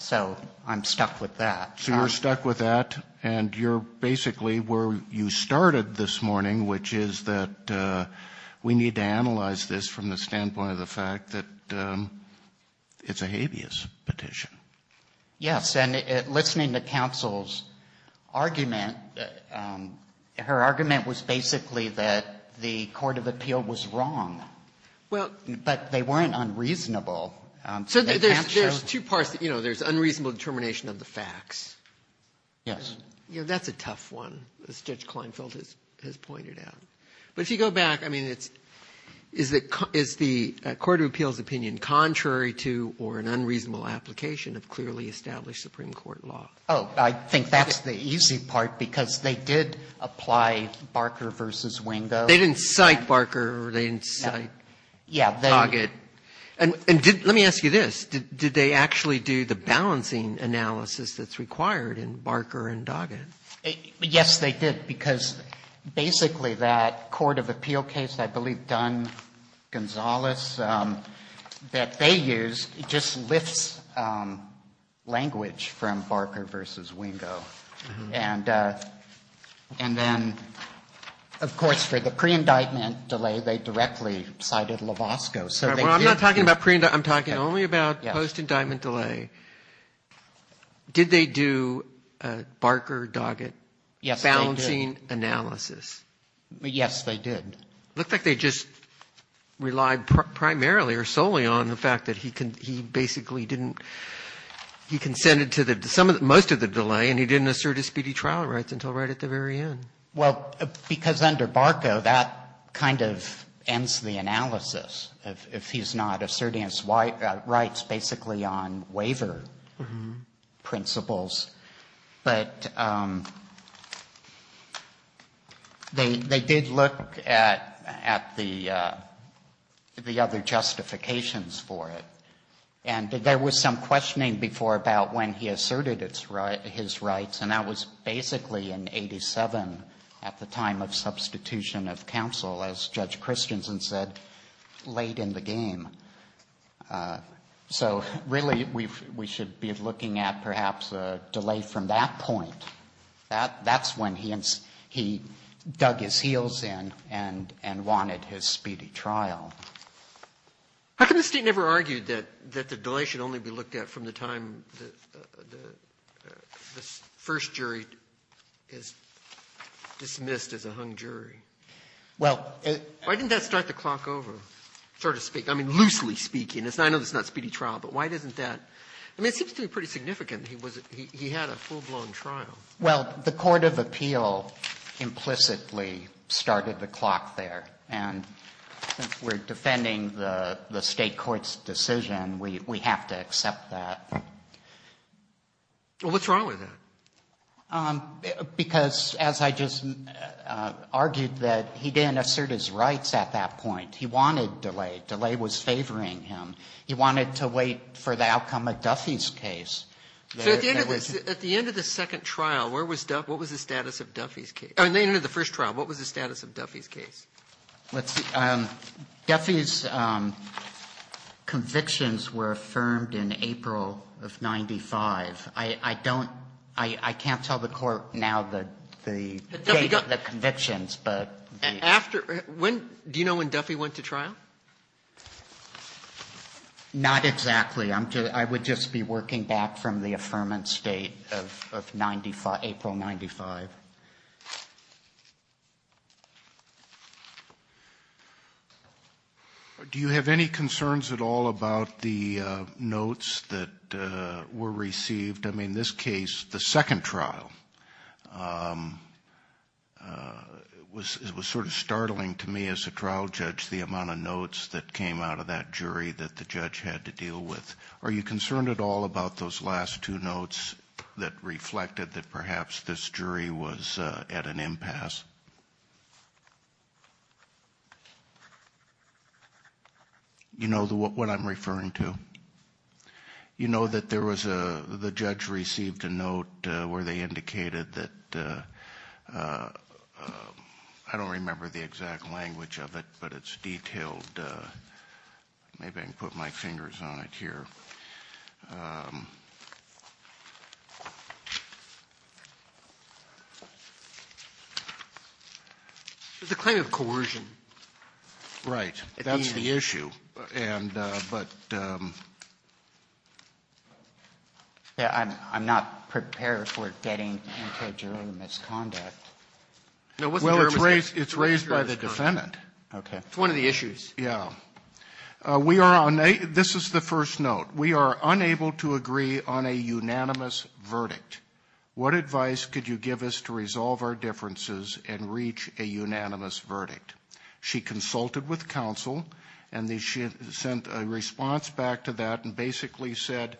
so I'm stuck with that. So you're stuck with that, and you're basically where you started this morning, which is that we need to analyze this from the standpoint of the fact that it's a habeas petition. Yes, and listening to counsel's argument, her argument was basically that the court of appeal was wrong. But they weren't unreasonable. So there's two parts. You know, there's unreasonable determination of the facts. That's a tough one, as Judge Klinefeld has pointed out. But if you go back, I mean, is the court of appeal's opinion contrary to or an unreasonable application of clearly established Supreme Court law? Oh, I think that's the easy part, because they did apply Barker v. Wingo. They didn't cite Barker or they didn't cite Doggett. And let me ask you this. Did they actually do the balancing analysis that's required in Barker and Doggett? Yes, they did, because basically that court of appeal case, I believe Dunn-Gonzalez, that they used, just lifts language from Barker v. Wingo. And then, of course, for the pre-indictment delay, they directly cited Lovasco. I'm not talking about pre-indictment. I'm talking only about post-indictment delay. Did they do Barker, Doggett balancing analysis? Yes, they did. It looked like they just relied primarily or solely on the fact that he basically didn't, he consented to most of the delay and he didn't assert his speedy trial rights until right at the very end. Well, because under Barker, that kind of ends the analysis, if he's not asserting his rights basically on waiver principles. But they did look at the other justifications for it. And there was some questioning before about when he asserted his rights, and that was basically in 1987 at the time of substitution of counsel, as Judge Christensen said, late in the game. So really, we should be looking at perhaps a delay from that point. That's when he dug his heels in and wanted his speedy trial. How come the State never argued that the delay should only be looked at from the time the first jury is dismissed as a hung jury? Well, it's why didn't that start the clock over, so to speak? I mean, loosely speaking. I know it's not speedy trial, but why doesn't that? I mean, it seems to be pretty significant. He had a full-blown trial. Well, the court of appeal implicitly started the clock there. And since we're defending the State court's decision, we have to accept that. Well, what's wrong with that? Because as I just argued, that he didn't assert his rights at that point. He wanted delay. Delay was favoring him. He wanted to wait for the outcome of Duffy's case. So at the end of the second trial, where was Duffy? What was the status of Duffy's case? I mean, at the end of the first trial, what was the status of Duffy's case? Let's see. Duffy's convictions were affirmed in April of 95. I don't – I can't tell the Court now the date of the convictions. After – do you know when Duffy went to trial? Not exactly. I would just be working back from the affirmance date of 95, April 95. Do you have any concerns at all about the notes that were received? I mean, this case, the second trial, was sort of startling to me as a trial judge, the amount of notes that came out of that jury that the judge had to deal with. Are you concerned at all about those last two notes that reflected that perhaps this jury was at an impasse? You know what I'm referring to? You know that there was a – the judge received a note where they indicated that – I don't remember the exact language of it, but it's detailed. Maybe I can put my fingers on it here. The claim of coercion. Right. That's the issue. But – I'm not prepared for getting into a jury misconduct. Well, it's raised by the defendant. Okay. It's one of the issues. Yeah. We are – this is the first note. We are unable to agree on a unanimous verdict. What advice could you give us to resolve our differences and reach a unanimous verdict? She consulted with counsel and they sent a response back to that and basically said,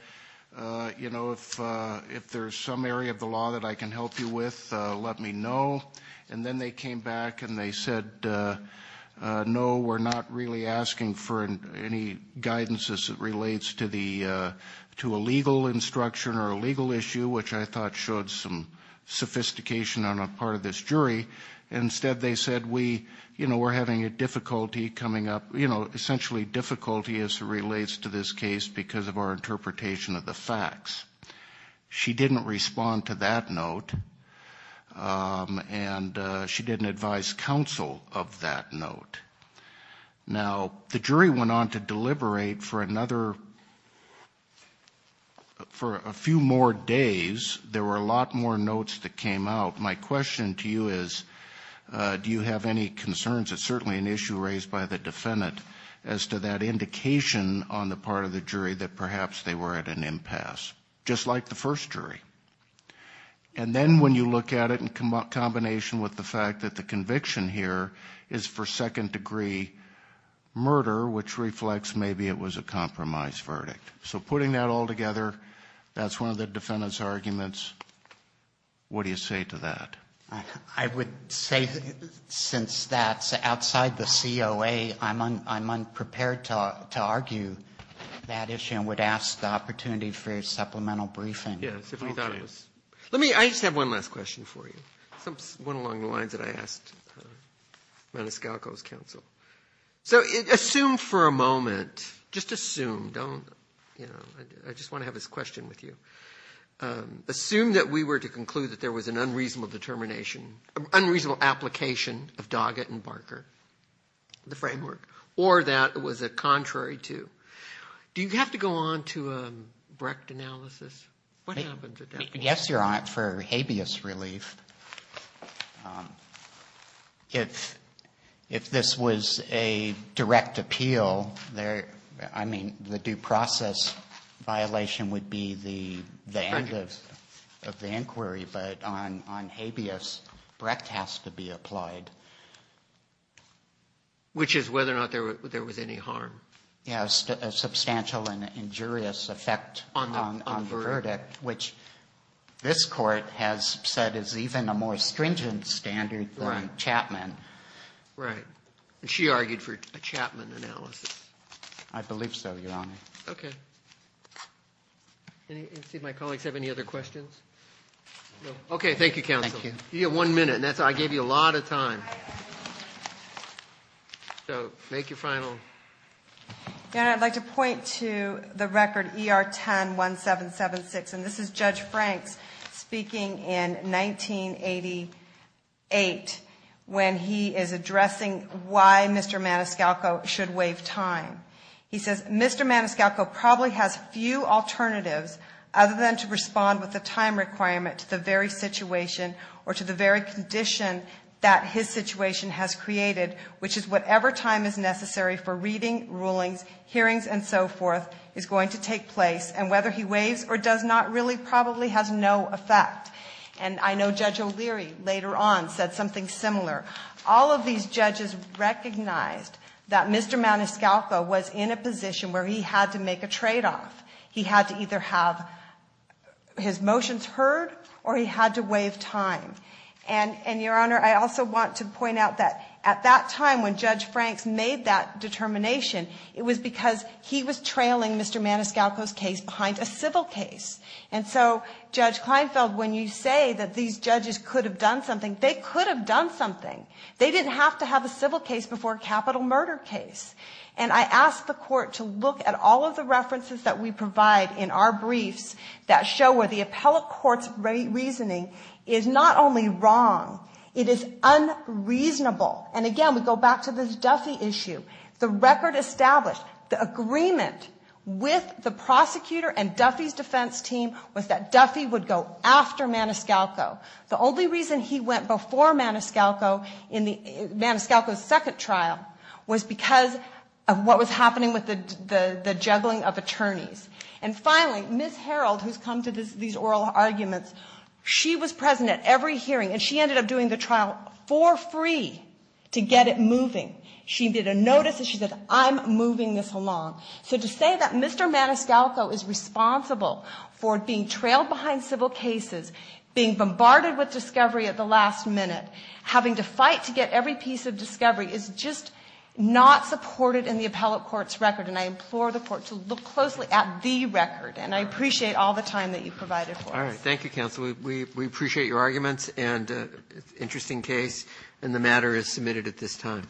you know, if there's some area of the law that I can help you with, let me know. And then they came back and they said, no, we're not really asking for any guidance as it relates to the – to a legal instruction or a legal issue, which I thought showed some sophistication on a part of this jury. Instead, they said, we – you know, we're having a difficulty coming up – you know, essentially difficulty as it relates to this case because of our interpretation of the facts. She didn't respond to that note and she didn't advise counsel of that note. Now, the jury went on to deliberate for another – for a few more days. There were a lot more notes that came out. My question to you is, do you have any concerns? It's certainly an issue raised by the defendant as to that indication on the part of the jury that perhaps they were at an impasse, just like the first jury. And then when you look at it in combination with the fact that the conviction here is for second degree murder, which reflects maybe it was a compromise verdict. So putting that all together, that's one of the defendant's arguments. What do you say to that? I would say since that's outside the COA, I'm unprepared to argue that issue and would ask the opportunity for a supplemental briefing. Yes, if we thought it was – let me – I just have one last question for you. It's one along the lines that I asked on Menescalco's counsel. So assume for a moment – just assume, don't – I just want to have this question with you. Assume that we were to conclude that there was an unreasonable determination – unreasonable application of Doggett and Barker, the framework, or that it was a contrary to. Do you have to go on to a Brecht analysis? What happened to that? Yes, Your Honor, for habeas relief. If this was a direct appeal, I mean, the due process violation would be the end of the inquiry. But on habeas, Brecht has to be applied. Which is whether or not there was any harm. Yes, a substantial and injurious effect on the verdict, which this Court has said is even a more stringent standard than Chapman. Right. And she argued for a Chapman analysis. I believe so, Your Honor. Okay. Let's see if my colleagues have any other questions. No? Okay, thank you, counsel. Thank you. You get one minute, and that's – I gave you a lot of time. So, make your final – Your Honor, I'd like to point to the record ER-10-1776. And this is Judge Franks speaking in 1988 when he is addressing why Mr. Maniscalco should waive time. He says, Mr. Maniscalco probably has few alternatives other than to respond with a time requirement to the very situation or to the very condition that his situation has created, which is whatever time is necessary for reading, rulings, hearings, and so forth is going to take place. And whether he waives or does not really probably has no effect. And I know Judge O'Leary later on said something similar. All of these judges recognized that Mr. Maniscalco was in a position where he had to make a tradeoff. He had to either have his motions heard or he had to waive time. And, Your Honor, I also want to point out that at that time when Judge Franks made that determination, it was because he was trailing Mr. Maniscalco's case behind a civil case. And so, Judge Kleinfeld, when you say that these judges could have done something, they could have done something. They didn't have to have a civil case before a capital murder case. And I ask the court to look at all of the references that we provide in our briefs that show where the appellate court's reasoning is not only wrong, it is unreasonable. And, again, we go back to this Duffy issue. The record established the agreement with the prosecutor and Duffy's defense team was that Duffy would go after Maniscalco. The only reason he went before Maniscalco in Maniscalco's second trial was because of what was happening with the juggling of attorneys. And, finally, Ms. Harreld, who has come to these oral arguments, she was present at every hearing and she ended up doing the trial for free to get it moving. She did a notice and she said, I'm moving this along. So to say that Mr. Maniscalco is responsible for being trailed behind civil cases, being bombarded with discovery at the last minute, having to fight to get every piece of discovery, is just not supported in the appellate court's record. And I implore the court to look closely at the record. And I appreciate all the time that you provided for us. Roberts. Thank you, counsel. We appreciate your arguments and interesting case. And the matter is submitted at this time.